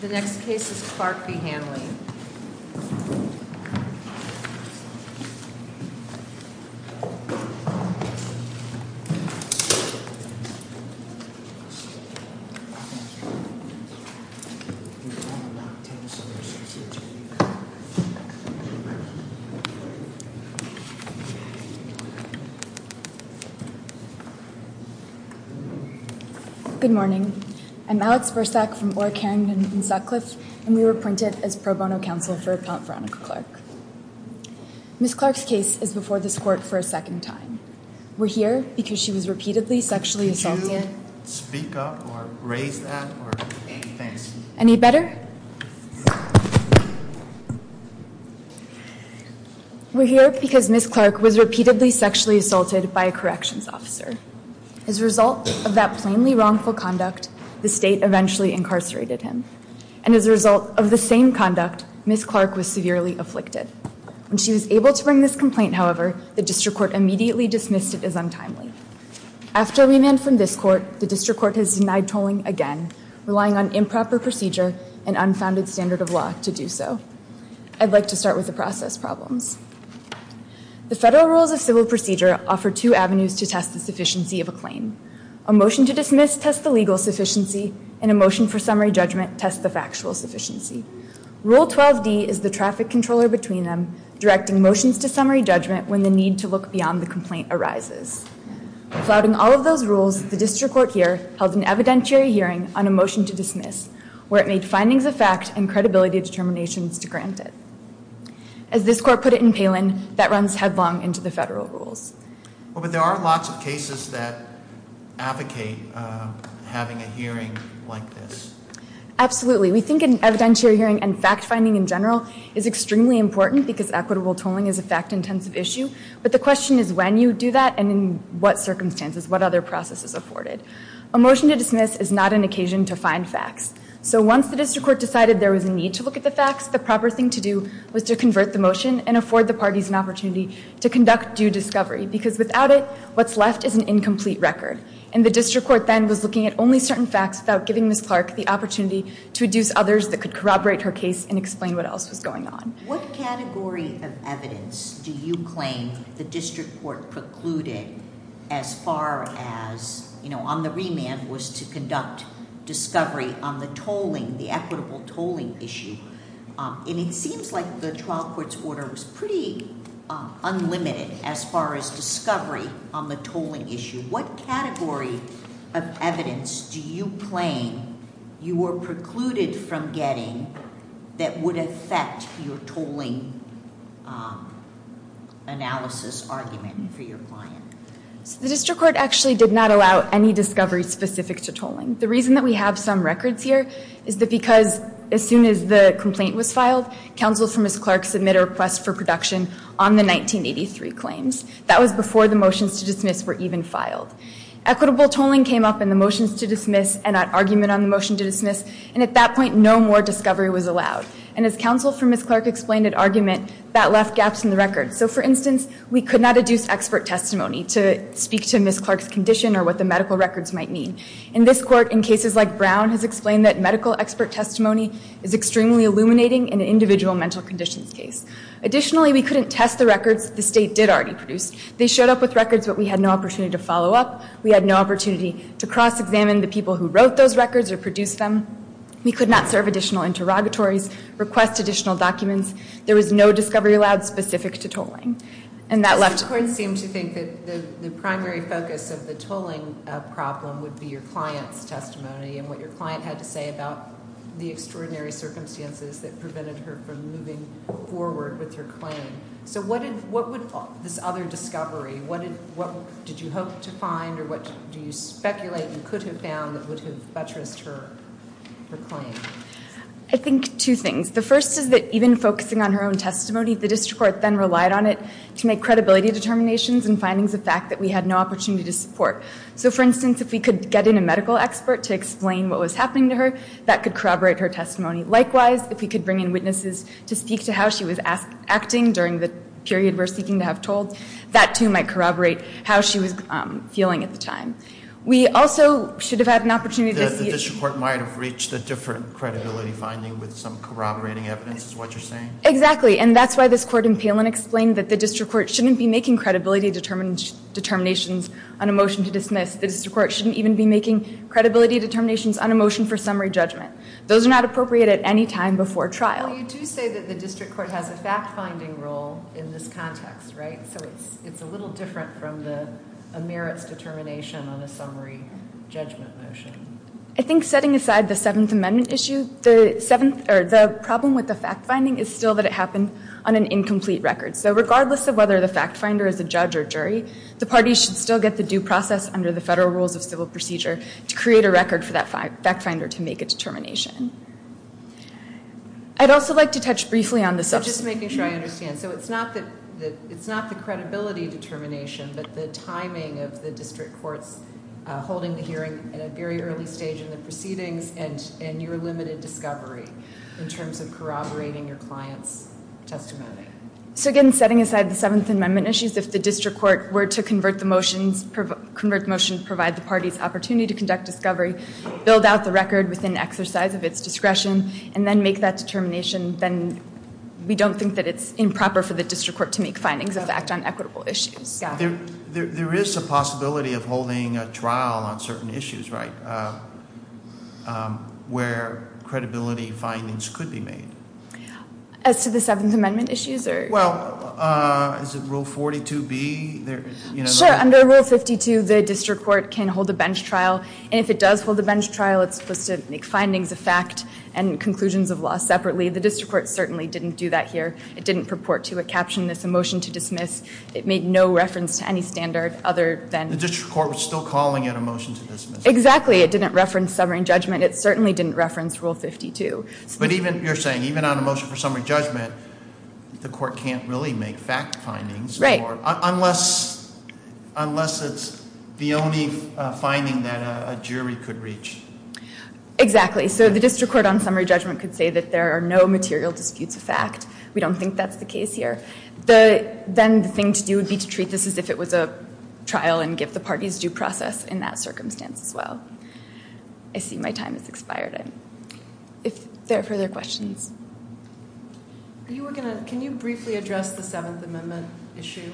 The next case is Clark v. Hanley. Please stand by. Please stand by. Please stand by. Please stand by. Please stand by. Please stand by. Please stand by. Please stand by. I'd like to start with the process problems. The federal rules of civil procedure offer two avenues to test the sufficiency of a claim. A motion to dismiss tests the legal sufficiency, and a motion for summary judgment tests the factual sufficiency. Rule 12D is the traffic controller between them, directing motions to summary judgment when the need to look beyond the complaint arises. Flouting all of those rules, the district court here held an evidentiary hearing on a motion to dismiss, where it made findings of fact and credibility determinations to grant it. As this court put it in Palin, that runs headlong into the federal rules. Well, but there are lots of cases that advocate having a hearing like this. Absolutely. We think an evidentiary hearing and fact-finding in general is extremely important because equitable tolling is a fact-intensive issue, but the question is when you do that and in what circumstances, what other processes are afforded. A motion to dismiss is not an occasion to find facts. So once the district court decided there was a need to look at the facts, the proper thing to do was to convert the motion and afford the parties an opportunity to conduct due discovery, because without it, what's left is an incomplete record. And the district court then was looking at only certain facts without giving Ms. Clark the opportunity to reduce others that could corroborate her case and explain what else was going on. What category of evidence do you claim the district court precluded as far as, you know, on the remand was to conduct discovery on the tolling, the equitable tolling issue? And it seems like the trial court's order was pretty unlimited as far as discovery on the tolling issue. What category of evidence do you claim you were precluded from getting that would affect your tolling analysis argument for your client? The district court actually did not allow any discovery specific to tolling. The reason that we have some records here is that because as soon as the complaint was filed, counsel for Ms. Clark submitted a request for production on the 1983 claims. That was before the motions to dismiss were even filed. Equitable tolling came up in the motions to dismiss and that argument on the motion to dismiss, and at that point, no more discovery was allowed. And as counsel for Ms. Clark explained at argument, that left gaps in the record. So for instance, we could not adduce expert testimony to speak to Ms. Clark's condition or what the medical records might mean. And this court, in cases like Brown, has explained that medical expert testimony is extremely illuminating in an individual mental conditions case. Additionally, we couldn't test the records the state did already produce. They showed up with records, but we had no opportunity to follow up. We had no opportunity to cross-examine the people who wrote those records or produced them. We could not serve additional interrogatories, request additional documents. There was no discovery allowed specific to tolling. And that left... You seem to think that the primary focus of the tolling problem would be your client's testimony and what your client had to say about the extraordinary circumstances that prevented her from moving forward with her claim. So what would this other discovery... What did you hope to find or what do you speculate you could have found that would have buttressed her claim? I think two things. The first is that even focusing on her own testimony, the district court then relied on it to make credibility determinations and findings of fact that we had no opportunity to support. So, for instance, if we could get in a medical expert to explain what was happening to her, that could corroborate her testimony. Likewise, if we could bring in witnesses to speak to how she was acting during the period we're seeking to have told, that too might corroborate how she was feeling at the time. We also should have had an opportunity to see... The district court might have reached a different credibility finding with some corroborating evidence, is what you're saying? Exactly. And that's why this court in Palin explained that the district court shouldn't be making credibility determinations on a motion to dismiss. The district court shouldn't even be making credibility determinations on a motion for summary judgment. Those are not appropriate at any time before trial. Well, you do say that the district court has a fact-finding role in this context, right? So it's a little different from a merits determination on a summary judgment motion. I think setting aside the Seventh Amendment issue, the problem with the fact-finding is still that it happened on an incomplete record. So regardless of whether the fact-finder is a judge or jury, the parties should still get the due process under the federal rules of civil procedure to create a record for that fact-finder to make a determination. I'd also like to touch briefly on the... So just making sure I understand. So it's not the credibility determination, but the timing of the district courts holding the hearing at a very early stage in the proceedings and your limited discovery in terms of corroborating your client's testimony. So again, setting aside the Seventh Amendment issues, if the district court were to convert the motion to provide the parties opportunity to conduct discovery, build out the record within exercise of its discretion, and then make that determination, then we don't think that it's improper for the district court to make findings that act on equitable issues. There is a possibility of holding a trial on certain issues, right? Where credibility findings could be made. As to the Seventh Amendment issues? Well, is it Rule 42B? Sure, under Rule 52, the district court can hold a bench trial, and if it does hold a bench trial, it's supposed to make findings of fact and conclusions of law separately. The district court certainly didn't do that here. It didn't purport to a caption, it's a motion to dismiss. It made no reference to any standard other than... The district court was still calling it a motion to dismiss. Exactly, it didn't reference summary judgment. It certainly didn't reference Rule 52. But even, you're saying, even on a motion for summary judgment, the court can't really make fact findings. Right. Unless it's the only finding that a jury could reach. Exactly. So the district court on summary judgment could say that there are no material disputes of fact. We don't think that's the case here. Then the thing to do would be to treat this as if it was a trial and give the parties due process in that circumstance as well. I see my time has expired. If there are further questions. Can you briefly address the Seventh Amendment issue?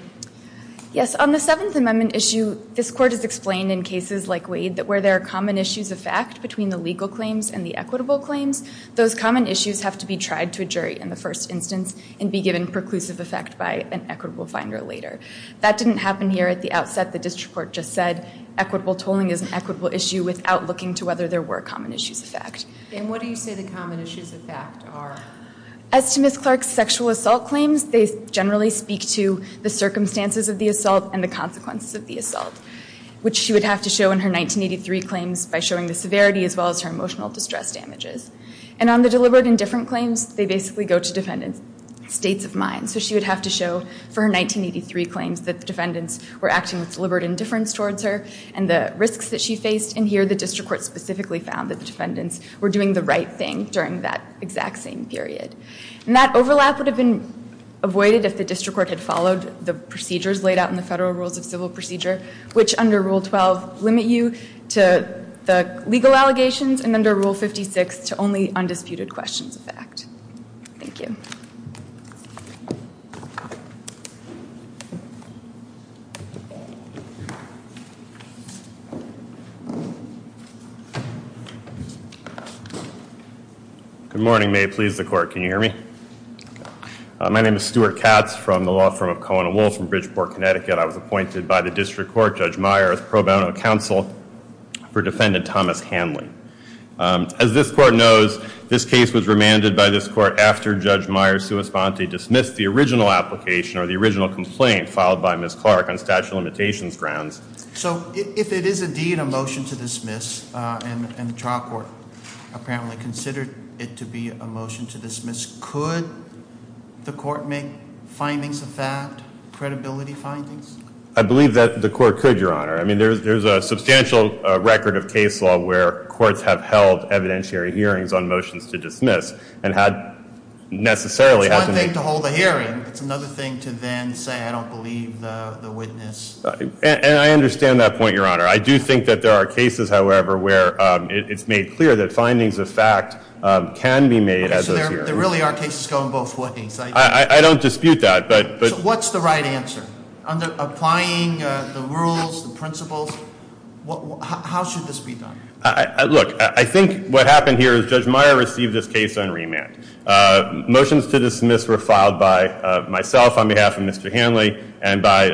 Yes, on the Seventh Amendment issue, this court has explained in cases like Wade that where there are common issues of fact between the legal claims and the equitable claims, those common issues have to be tried to a jury in the first instance and be given preclusive effect by an equitable finder later. That didn't happen here at the outset. The district court just said equitable tolling is an equitable issue without looking to whether there were common issues of fact. And what do you say the common issues of fact are? As to Ms. Clark's sexual assault claims, they generally speak to the circumstances of the assault and the consequences of the assault, which she would have to show in her 1983 claims by showing the severity as well as her emotional distress damages. And on the deliberate and different claims, they basically go to defendants' states of mind. So she would have to show for her 1983 claims that defendants were acting with deliberate indifference towards her and the risks that she faced. And here the district court specifically found that defendants were doing the right thing during that exact same period. And that overlap would have been avoided if the district court had followed the procedures laid out in the Federal Rules of Civil Procedure, which under Rule 12 limit you to the legal allegations and under Rule 56 to only undisputed questions of fact. Thank you. Thank you. Good morning. May it please the court. Can you hear me? My name is Stuart Katz from the law firm of Cohen & Wohl from Bridgeport, Connecticut. I was appointed by the district court, Judge Meyer, as pro bono counsel for defendant Thomas Hanley. As this court knows, this case was remanded by this court after Judge Meyer's sua sponte dismissed the original application or the original complaint filed by Ms. Clark on statute of limitations grounds. So if it is indeed a motion to dismiss and the trial court apparently considered it to be a motion to dismiss, could the court make findings of fact, credibility findings? I believe that the court could, Your Honor. I mean, there's a substantial record of case law where courts have held evidentiary hearings on motions to dismiss and had necessarily had to make... It's one thing to hold a hearing. It's another thing to then say, I don't believe the witness. And I understand that point, Your Honor. I do think that there are cases, however, where it's made clear that findings of fact can be made at those hearings. So there really are cases going both ways. I don't dispute that, but... So what's the right answer? Applying the rules, the principles, how should this be done? Look, I think what happened here is Judge Meyer received this case on remand. Motions to dismiss were filed by myself on behalf of Mr. Hanley and by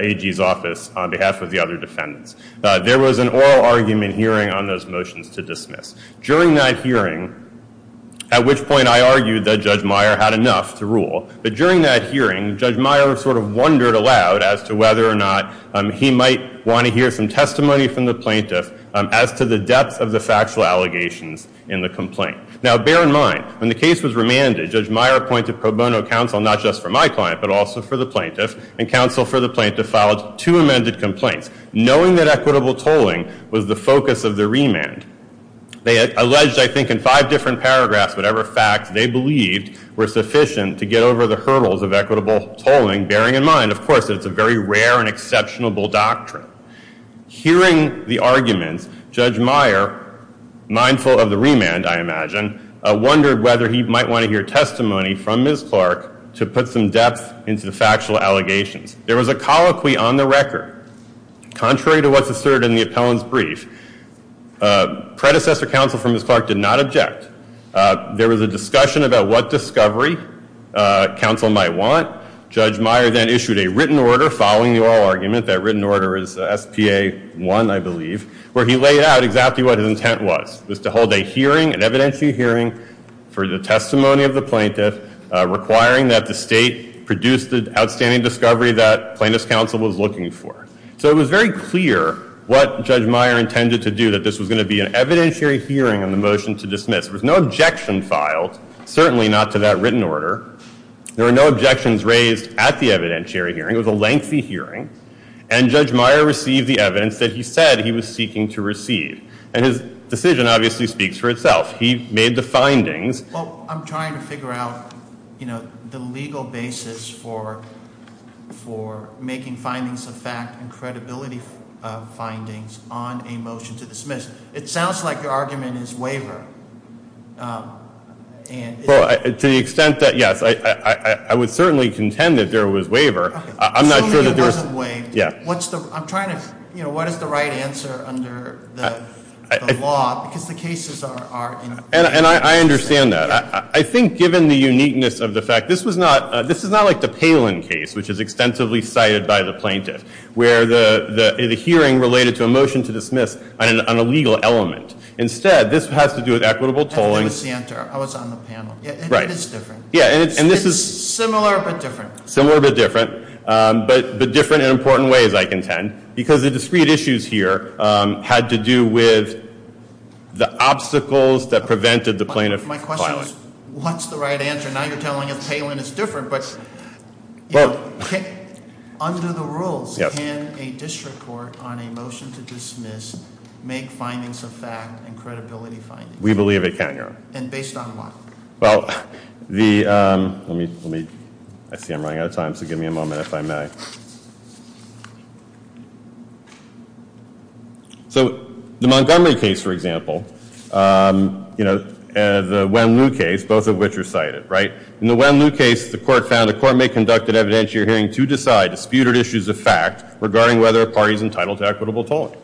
AG's office on behalf of the other defendants. There was an oral argument hearing on those motions to dismiss. During that hearing, at which point I argued that Judge Meyer had enough to rule, but during that hearing, Judge Meyer sort of wondered aloud as to whether or not he might want to hear some testimony from the plaintiff as to the depth of the factual allegations in the complaint. Now, bear in mind, when the case was remanded, Judge Meyer appointed pro bono counsel not just for my client but also for the plaintiff, and counsel for the plaintiff filed two amended complaints, knowing that equitable tolling was the focus of the remand. They alleged, I think, in five different paragraphs, whatever facts they believed were sufficient to get over the hurdles of equitable tolling, bearing in mind, of course, that it's a very rare and exceptional doctrine. Hearing the arguments, Judge Meyer, mindful of the remand, I imagine, wondered whether he might want to hear testimony from Ms. Clark to put some depth into the factual allegations. There was a colloquy on the record. Contrary to what's asserted in the appellant's brief, predecessor counsel for Ms. Clark did not object. There was a discussion about what discovery counsel might want. Judge Meyer then issued a written order following the oral argument. That written order is S.P.A. 1, I believe, where he laid out exactly what his intent was, was to hold a hearing, an evidentiary hearing for the testimony of the plaintiff, requiring that the state produce the outstanding discovery that plaintiff's counsel was looking for. So it was very clear what Judge Meyer intended to do, that this was going to be an evidentiary hearing on the motion to dismiss. There was no objection filed, certainly not to that written order. There were no objections raised at the evidentiary hearing. It was a lengthy hearing, and Judge Meyer received the evidence that he said he was seeking to receive. And his decision obviously speaks for itself. He made the findings. Well, I'm trying to figure out, you know, the legal basis for making findings of fact and credibility findings on a motion to dismiss. It sounds like your argument is waiver. Well, to the extent that, yes, I would certainly contend that there was waiver. Assuming it wasn't waiver, what's the, I'm trying to, you know, what is the right answer under the law? Because the cases are, you know. And I understand that. I think given the uniqueness of the fact, this was not, this is not like the Palin case, which is extensively cited by the plaintiff, where the hearing related to a motion to dismiss on a legal element. Instead, this has to do with equitable tolling. That was the answer. I was on the panel. Right. It is different. Yeah, and this is. It's similar, but different. Similar, but different. But different in important ways, I contend. Because the discrete issues here had to do with the obstacles that prevented the plaintiff filing. My question was, what's the right answer? Now you're telling us Palin is different. Under the rules, can a district court on a motion to dismiss make findings of fact and credibility findings? We believe it can, Your Honor. And based on what? Well, the, let me, let me. I see I'm running out of time, so give me a moment if I may. So the Montgomery case, for example, you know, the Wen-Liu case, both of which are cited, right? In the Wen-Liu case, the court found the court may conduct an evidentiary hearing to decide disputed issues of fact regarding whether a party is entitled to equitable tolling.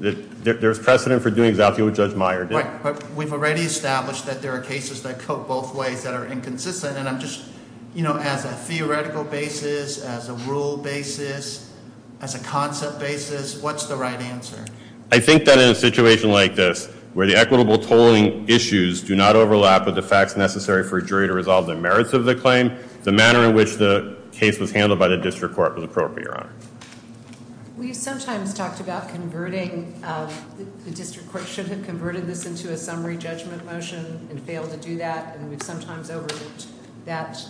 There's precedent for doing exactly what Judge Meyer did. Right, but we've already established that there are cases that go both ways that are inconsistent. And I'm just, you know, as a theoretical basis, as a rule basis, as a concept basis, what's the right answer? I think that in a situation like this, where the equitable tolling issues do not overlap with the facts necessary for a jury to resolve the merits of the claim, the manner in which the case was handled by the district court was appropriate, Your Honor. We sometimes talked about converting, the district court should have converted this into a summary judgment motion and failed to do that. And we've sometimes overlooked that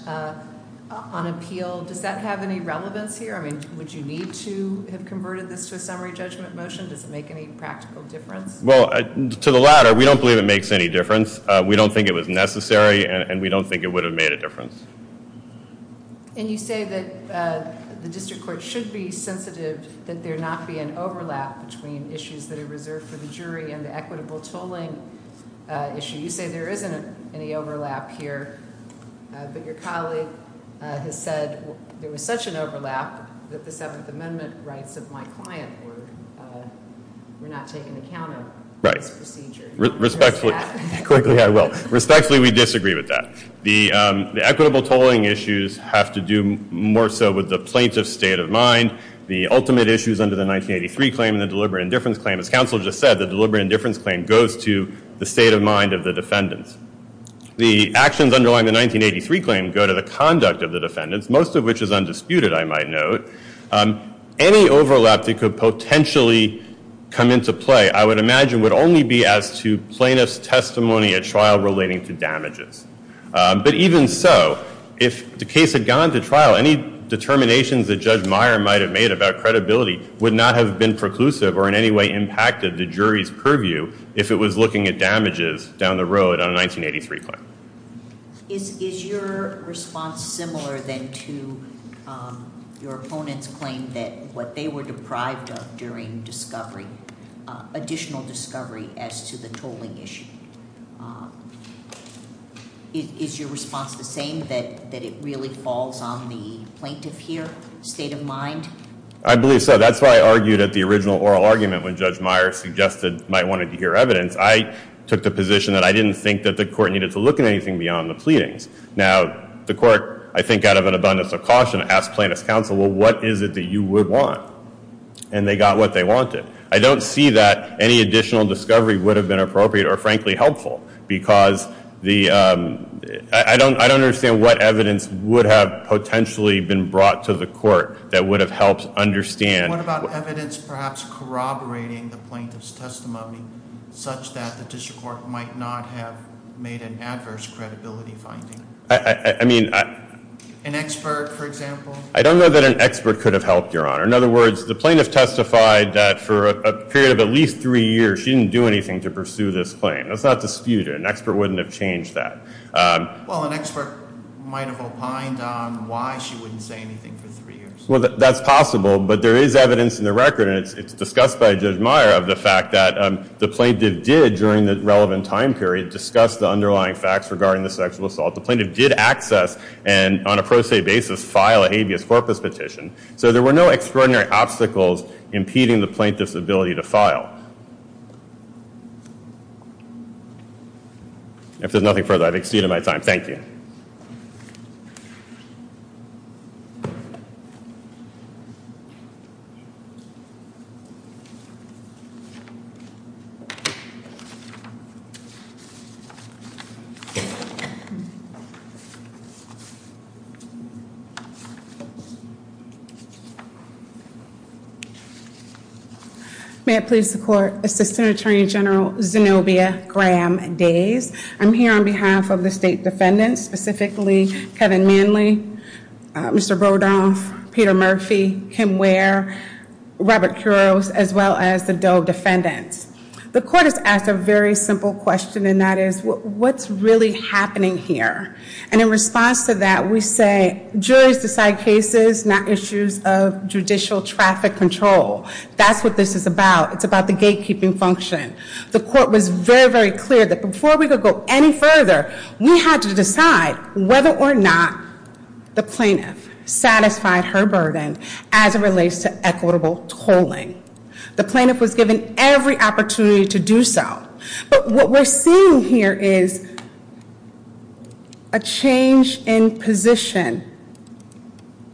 on appeal. Does that have any relevance here? I mean, would you need to have converted this to a summary judgment motion? Does it make any practical difference? Well, to the latter, we don't believe it makes any difference. We don't think it was necessary, and we don't think it would have made a difference. And you say that the district court should be sensitive that there not be an overlap between issues that are reserved for the jury and the equitable tolling issue. You say there isn't any overlap here. But your colleague has said there was such an overlap that the Seventh Amendment rights of my client were not taken account of in this procedure. Quickly, I will. Respectfully, we disagree with that. The equitable tolling issues have to do more so with the plaintiff's state of mind. The ultimate issues under the 1983 claim and the deliberate indifference claim, as counsel just said, the deliberate indifference claim goes to the state of mind of the defendants. The actions underlying the 1983 claim go to the conduct of the defendants, most of which is undisputed, I might note. Any overlap that could potentially come into play, I would imagine, would only be as to plaintiff's testimony at trial relating to damages. But even so, if the case had gone to trial, any determinations that Judge Meyer might have made about credibility would not have been preclusive or in any way impacted the jury's purview if it was looking at damages down the road on a 1983 claim. Is your response similar then to your opponent's claim that what they were deprived of during discovery, additional discovery as to the tolling issue? Is your response the same, that it really falls on the plaintiff here, state of mind? I believe so. That's why I argued at the original oral argument when Judge Meyer suggested, might want to hear evidence. I took the position that I didn't think that the court needed to look at anything beyond the pleadings. Now, the court, I think out of an abundance of caution, asked plaintiff's counsel, well, what is it that you would want? And they got what they wanted. I don't see that any additional discovery would have been appropriate or, frankly, helpful. Because I don't understand what evidence would have potentially been brought to the court that would have helped understand- Such that the district court might not have made an adverse credibility finding. I mean- An expert, for example? I don't know that an expert could have helped, Your Honor. In other words, the plaintiff testified that for a period of at least three years, she didn't do anything to pursue this claim. That's not disputed. An expert wouldn't have changed that. Well, an expert might have opined on why she wouldn't say anything for three years. Well, that's possible, but there is evidence in the record, and it's discussed by Judge Meyer, of the fact that the plaintiff did, during the relevant time period, discuss the underlying facts regarding the sexual assault. The plaintiff did access and, on a pro se basis, file a habeas corpus petition. So there were no extraordinary obstacles impeding the plaintiff's ability to file. If there's nothing further, I've exceeded my time. Thank you. May it please the court. Assistant Attorney General Zenobia Graham-Days. I'm here on behalf of the state defendants, specifically Kevin Manley, Mr. Rodoff, Peter Murphy, Kim Ware, Robert Kuros, as well as the Doe defendants. The court has asked a very simple question, and that is, what's really happening here? And in response to that, we say, juries decide cases, not issues of judicial traffic control. That's what this is about. It's about the gatekeeping function. The court was very, very clear that before we could go any further, we had to decide whether or not the plaintiff satisfied her burden as it relates to equitable tolling. The plaintiff was given every opportunity to do so. But what we're seeing here is a change in position.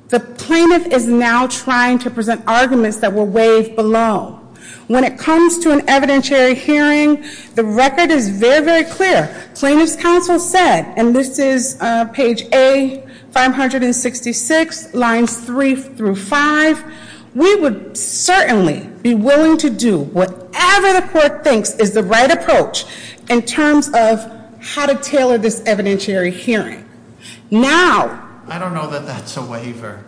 The plaintiff is now trying to present arguments that were waived below. When it comes to an evidentiary hearing, the record is very, very clear. Plaintiff's counsel said, and this is page A, 566, lines three through five. We would certainly be willing to do whatever the court thinks is the right approach in terms of how to tailor this evidentiary hearing. Now- But that's a waiver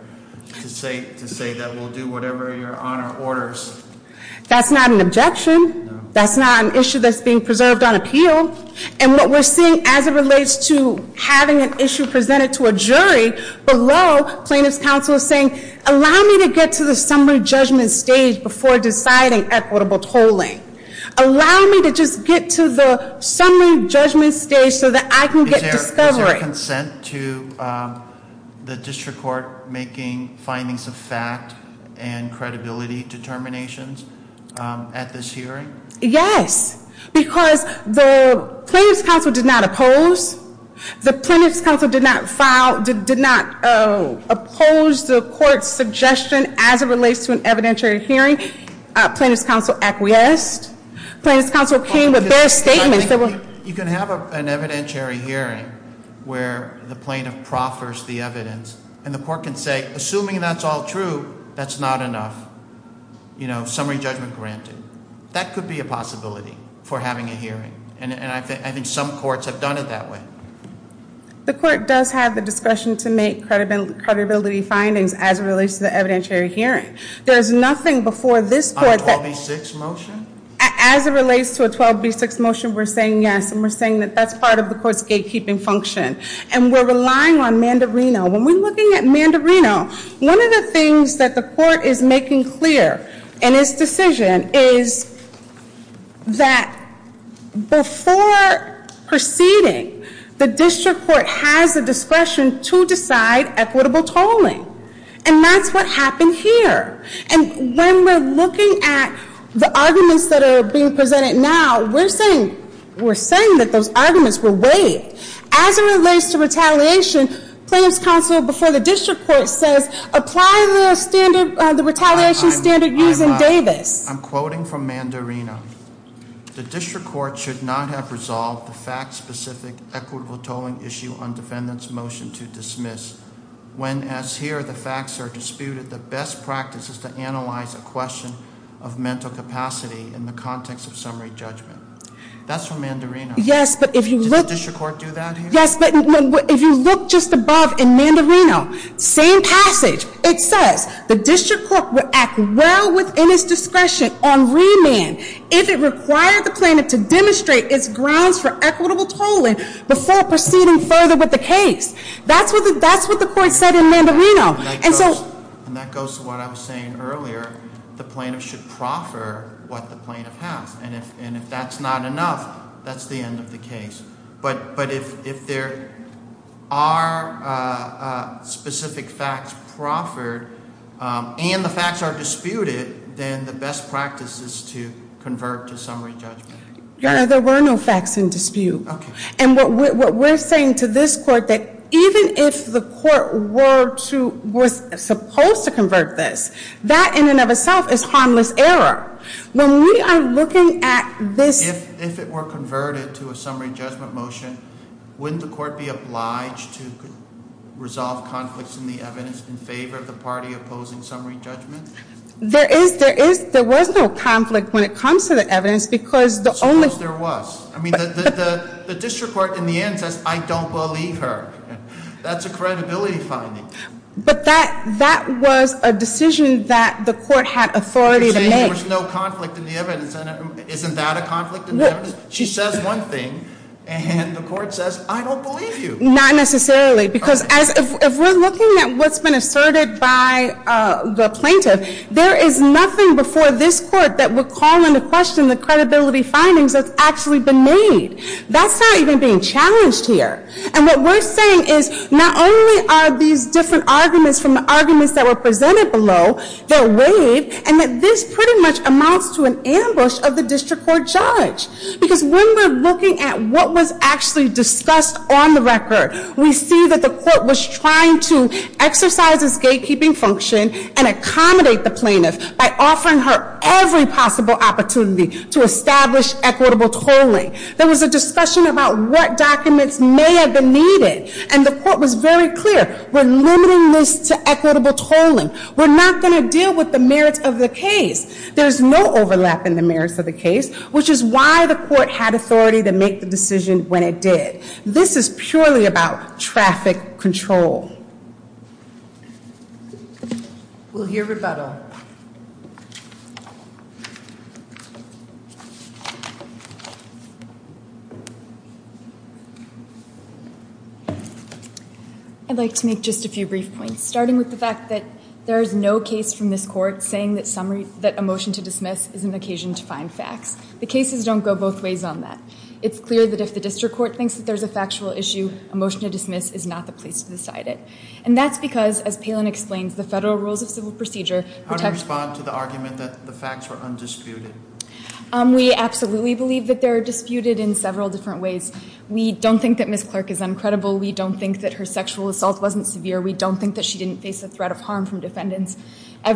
to say that we'll do whatever your honor orders. That's not an objection. That's not an issue that's being preserved on appeal. And what we're seeing as it relates to having an issue presented to a jury below, plaintiff's counsel is saying, allow me to get to the summary judgment stage before deciding equitable tolling. Allow me to just get to the summary judgment stage so that I can get discovery. Is there consent to the district court making findings of fact and credibility determinations at this hearing? Yes, because the plaintiff's counsel did not oppose. The plaintiff's counsel did not file, did not oppose the court's suggestion as it relates to an evidentiary hearing. Plaintiff's counsel acquiesced. Plaintiff's counsel came with their statements that were- You can have an evidentiary hearing where the plaintiff proffers the evidence. And the court can say, assuming that's all true, that's not enough. Summary judgment granted. That could be a possibility for having a hearing. And I think some courts have done it that way. The court does have the discretion to make credibility findings as it relates to the evidentiary hearing. There's nothing before this court that- On a 12B6 motion? As it relates to a 12B6 motion, we're saying yes. And we're saying that that's part of the court's gatekeeping function. And we're relying on Mandarino. When we're looking at Mandarino, one of the things that the court is making clear in its decision is that before proceeding, the district court has the discretion to decide equitable tolling. And that's what happened here. And when we're looking at the arguments that are being presented now, we're saying that those arguments were waived. As it relates to retaliation, plaintiff's counsel before the district court says, apply the standard, the retaliation standard used in Davis. I'm quoting from Mandarino. The district court should not have resolved the fact-specific equitable tolling issue on defendant's motion to dismiss. When, as here, the facts are disputed, the best practice is to analyze a question of mental capacity in the context of summary judgment. That's from Mandarino. Yes, but if you look- Did the district court do that here? Yes, but if you look just above in Mandarino, same passage. It says the district court will act well within its discretion on remand if it required the plaintiff to demonstrate its grounds for equitable tolling before proceeding further with the case. That's what the court said in Mandarino. And so- And that goes to what I was saying earlier. The plaintiff should proffer what the plaintiff has. And if that's not enough, that's the end of the case. But if there are specific facts proffered and the facts are disputed, then the best practice is to convert to summary judgment. There were no facts in dispute. Okay. And what we're saying to this court that even if the court was supposed to convert this, that in and of itself is harmless error. When we are looking at this- If it were converted to a summary judgment motion, wouldn't the court be obliged to resolve conflicts in the evidence in favor of the party opposing summary judgment? There was no conflict when it comes to the evidence because the only- Suppose there was. I mean, the district court in the end says, I don't believe her. That's a credibility finding. But that was a decision that the court had authority to make. You're saying there was no conflict in the evidence. Isn't that a conflict in the evidence? She says one thing and the court says, I don't believe you. Not necessarily. Because if we're looking at what's been asserted by the plaintiff, there is nothing before this court that would call into question the credibility findings that's actually been made. That's not even being challenged here. And what we're saying is not only are these different arguments from the arguments that were presented below that waived, and that this pretty much amounts to an ambush of the district court judge. Because when we're looking at what was actually discussed on the record, we see that the court was trying to exercise its gatekeeping function and accommodate the plaintiff by offering her every possible opportunity to establish equitable tolling. There was a discussion about what documents may have been needed. And the court was very clear, we're limiting this to equitable tolling. We're not going to deal with the merits of the case. There's no overlap in the merits of the case, which is why the court had authority to make the decision when it did. This is purely about traffic control. We'll hear rebuttal. I'd like to make just a few brief points. Starting with the fact that there is no case from this court saying that a motion to dismiss is an occasion to find facts. The cases don't go both ways on that. It's clear that if the district court thinks that there's a factual issue, a motion to dismiss is not the place to decide it. And that's because, as Palin explains, the federal rules of civil procedure protect- How do you respond to the argument that the facts are undisputed? We absolutely believe that they're disputed in several different ways. We don't think that Ms. Clark is uncredible. We don't think that her sexual assault wasn't severe. We don't think that she didn't face a threat of harm from defendants. What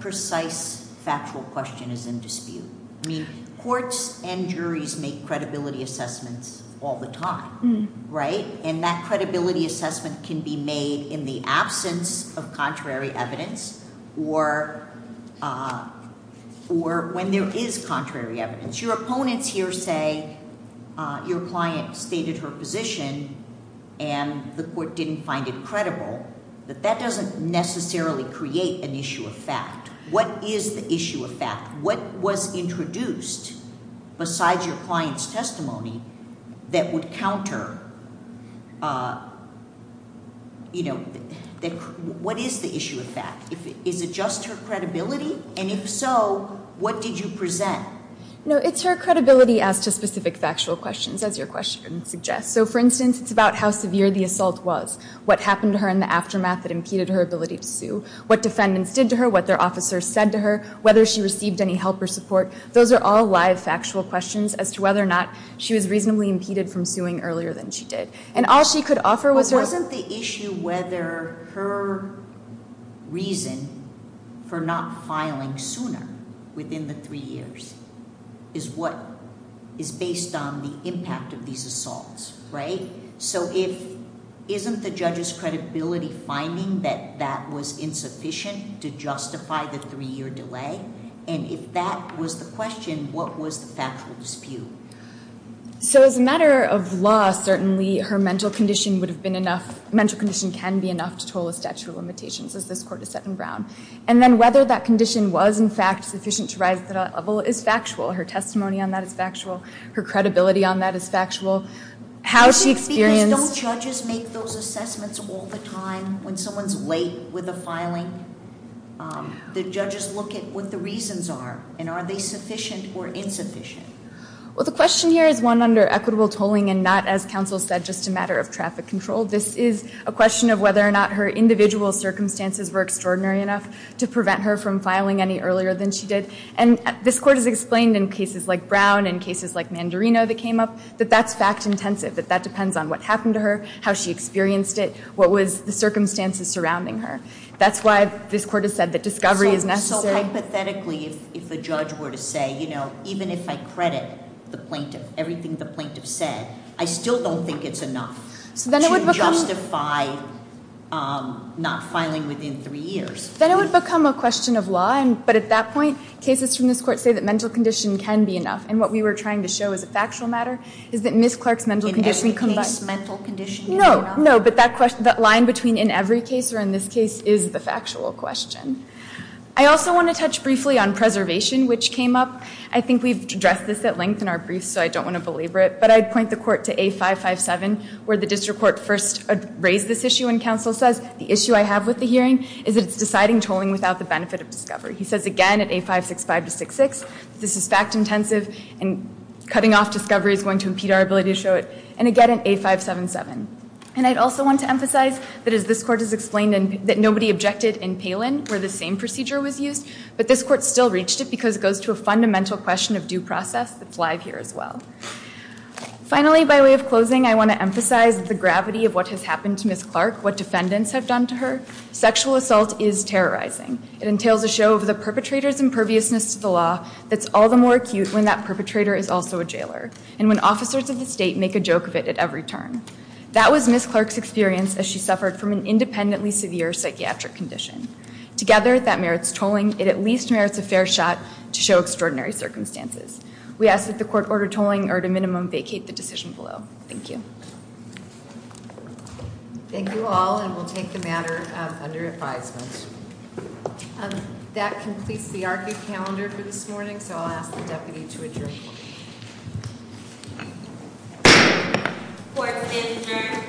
precise factual question is in dispute? I mean, courts and juries make credibility assessments all the time, right? And that credibility assessment can be made in the absence of contrary evidence or when there is contrary evidence. Your opponents here say your client stated her position and the court didn't find it credible. But that doesn't necessarily create an issue of fact. What is the issue of fact? What was introduced besides your client's testimony that would counter- What is the issue of fact? Is it just her credibility? And if so, what did you present? No, it's her credibility as to specific factual questions, as your question suggests. So, for instance, it's about how severe the assault was, what happened to her in the aftermath that impeded her ability to sue, what defendants did to her, what their officers said to her, whether she received any help or support. Those are all live factual questions as to whether or not she was reasonably impeded from suing earlier than she did. And all she could offer was her- is what is based on the impact of these assaults, right? So if- isn't the judge's credibility finding that that was insufficient to justify the three-year delay? And if that was the question, what was the factual dispute? So as a matter of law, certainly her mental condition would have been enough- mental condition can be enough to total the statute of limitations, as this court has said in Brown. And then whether that condition was, in fact, sufficient to rise to that level is factual. Her testimony on that is factual. Her credibility on that is factual. How she experienced- Because don't judges make those assessments all the time when someone's late with a filing? Do judges look at what the reasons are? And are they sufficient or insufficient? Well, the question here is one under equitable tolling and not, as counsel said, just a matter of traffic control. This is a question of whether or not her individual circumstances were extraordinary enough to prevent her from filing any earlier than she did. And this court has explained in cases like Brown and cases like Mandarino that came up that that's fact-intensive, that that depends on what happened to her, how she experienced it, what was the circumstances surrounding her. That's why this court has said that discovery is necessary. So hypothetically, if a judge were to say, you know, even if I credit the plaintiff, everything the plaintiff said, I still don't think it's enough. So then it would become- To justify not filing within three years. Then it would become a question of law. But at that point, cases from this court say that mental condition can be enough. And what we were trying to show as a factual matter is that Ms. Clark's mental condition- In every case, mental condition- No, no. But that line between in every case or in this case is the factual question. I also want to touch briefly on preservation, which came up. I think we've addressed this at length in our briefs, so I don't want to belabor it. But I'd point the court to A557, where the district court first raised this issue. And counsel says, the issue I have with the hearing is that it's deciding tolling without the benefit of discovery. He says again at A565-66, this is fact-intensive and cutting off discovery is going to impede our ability to show it. And again at A577. And I'd also want to emphasize that as this court has explained, that nobody objected in Palin where the same procedure was used. But this court still reached it because it goes to a fundamental question of due process that's live here as well. Finally, by way of closing, I want to emphasize the gravity of what has happened to Ms. Clark, what defendants have done to her. Sexual assault is terrorizing. It entails a show of the perpetrator's imperviousness to the law that's all the more acute when that perpetrator is also a jailer. And when officers of the state make a joke of it at every turn. That was Ms. Clark's experience as she suffered from an independently severe psychiatric condition. Together, that merits tolling. It at least merits a fair shot to show extraordinary circumstances. We ask that the court order tolling or at a minimum vacate the decision below. Thank you. Thank you all. And we'll take the matter under advisement. That completes the ARCA calendar for this morning. So I'll ask the deputy to adjourn. Court is adjourned.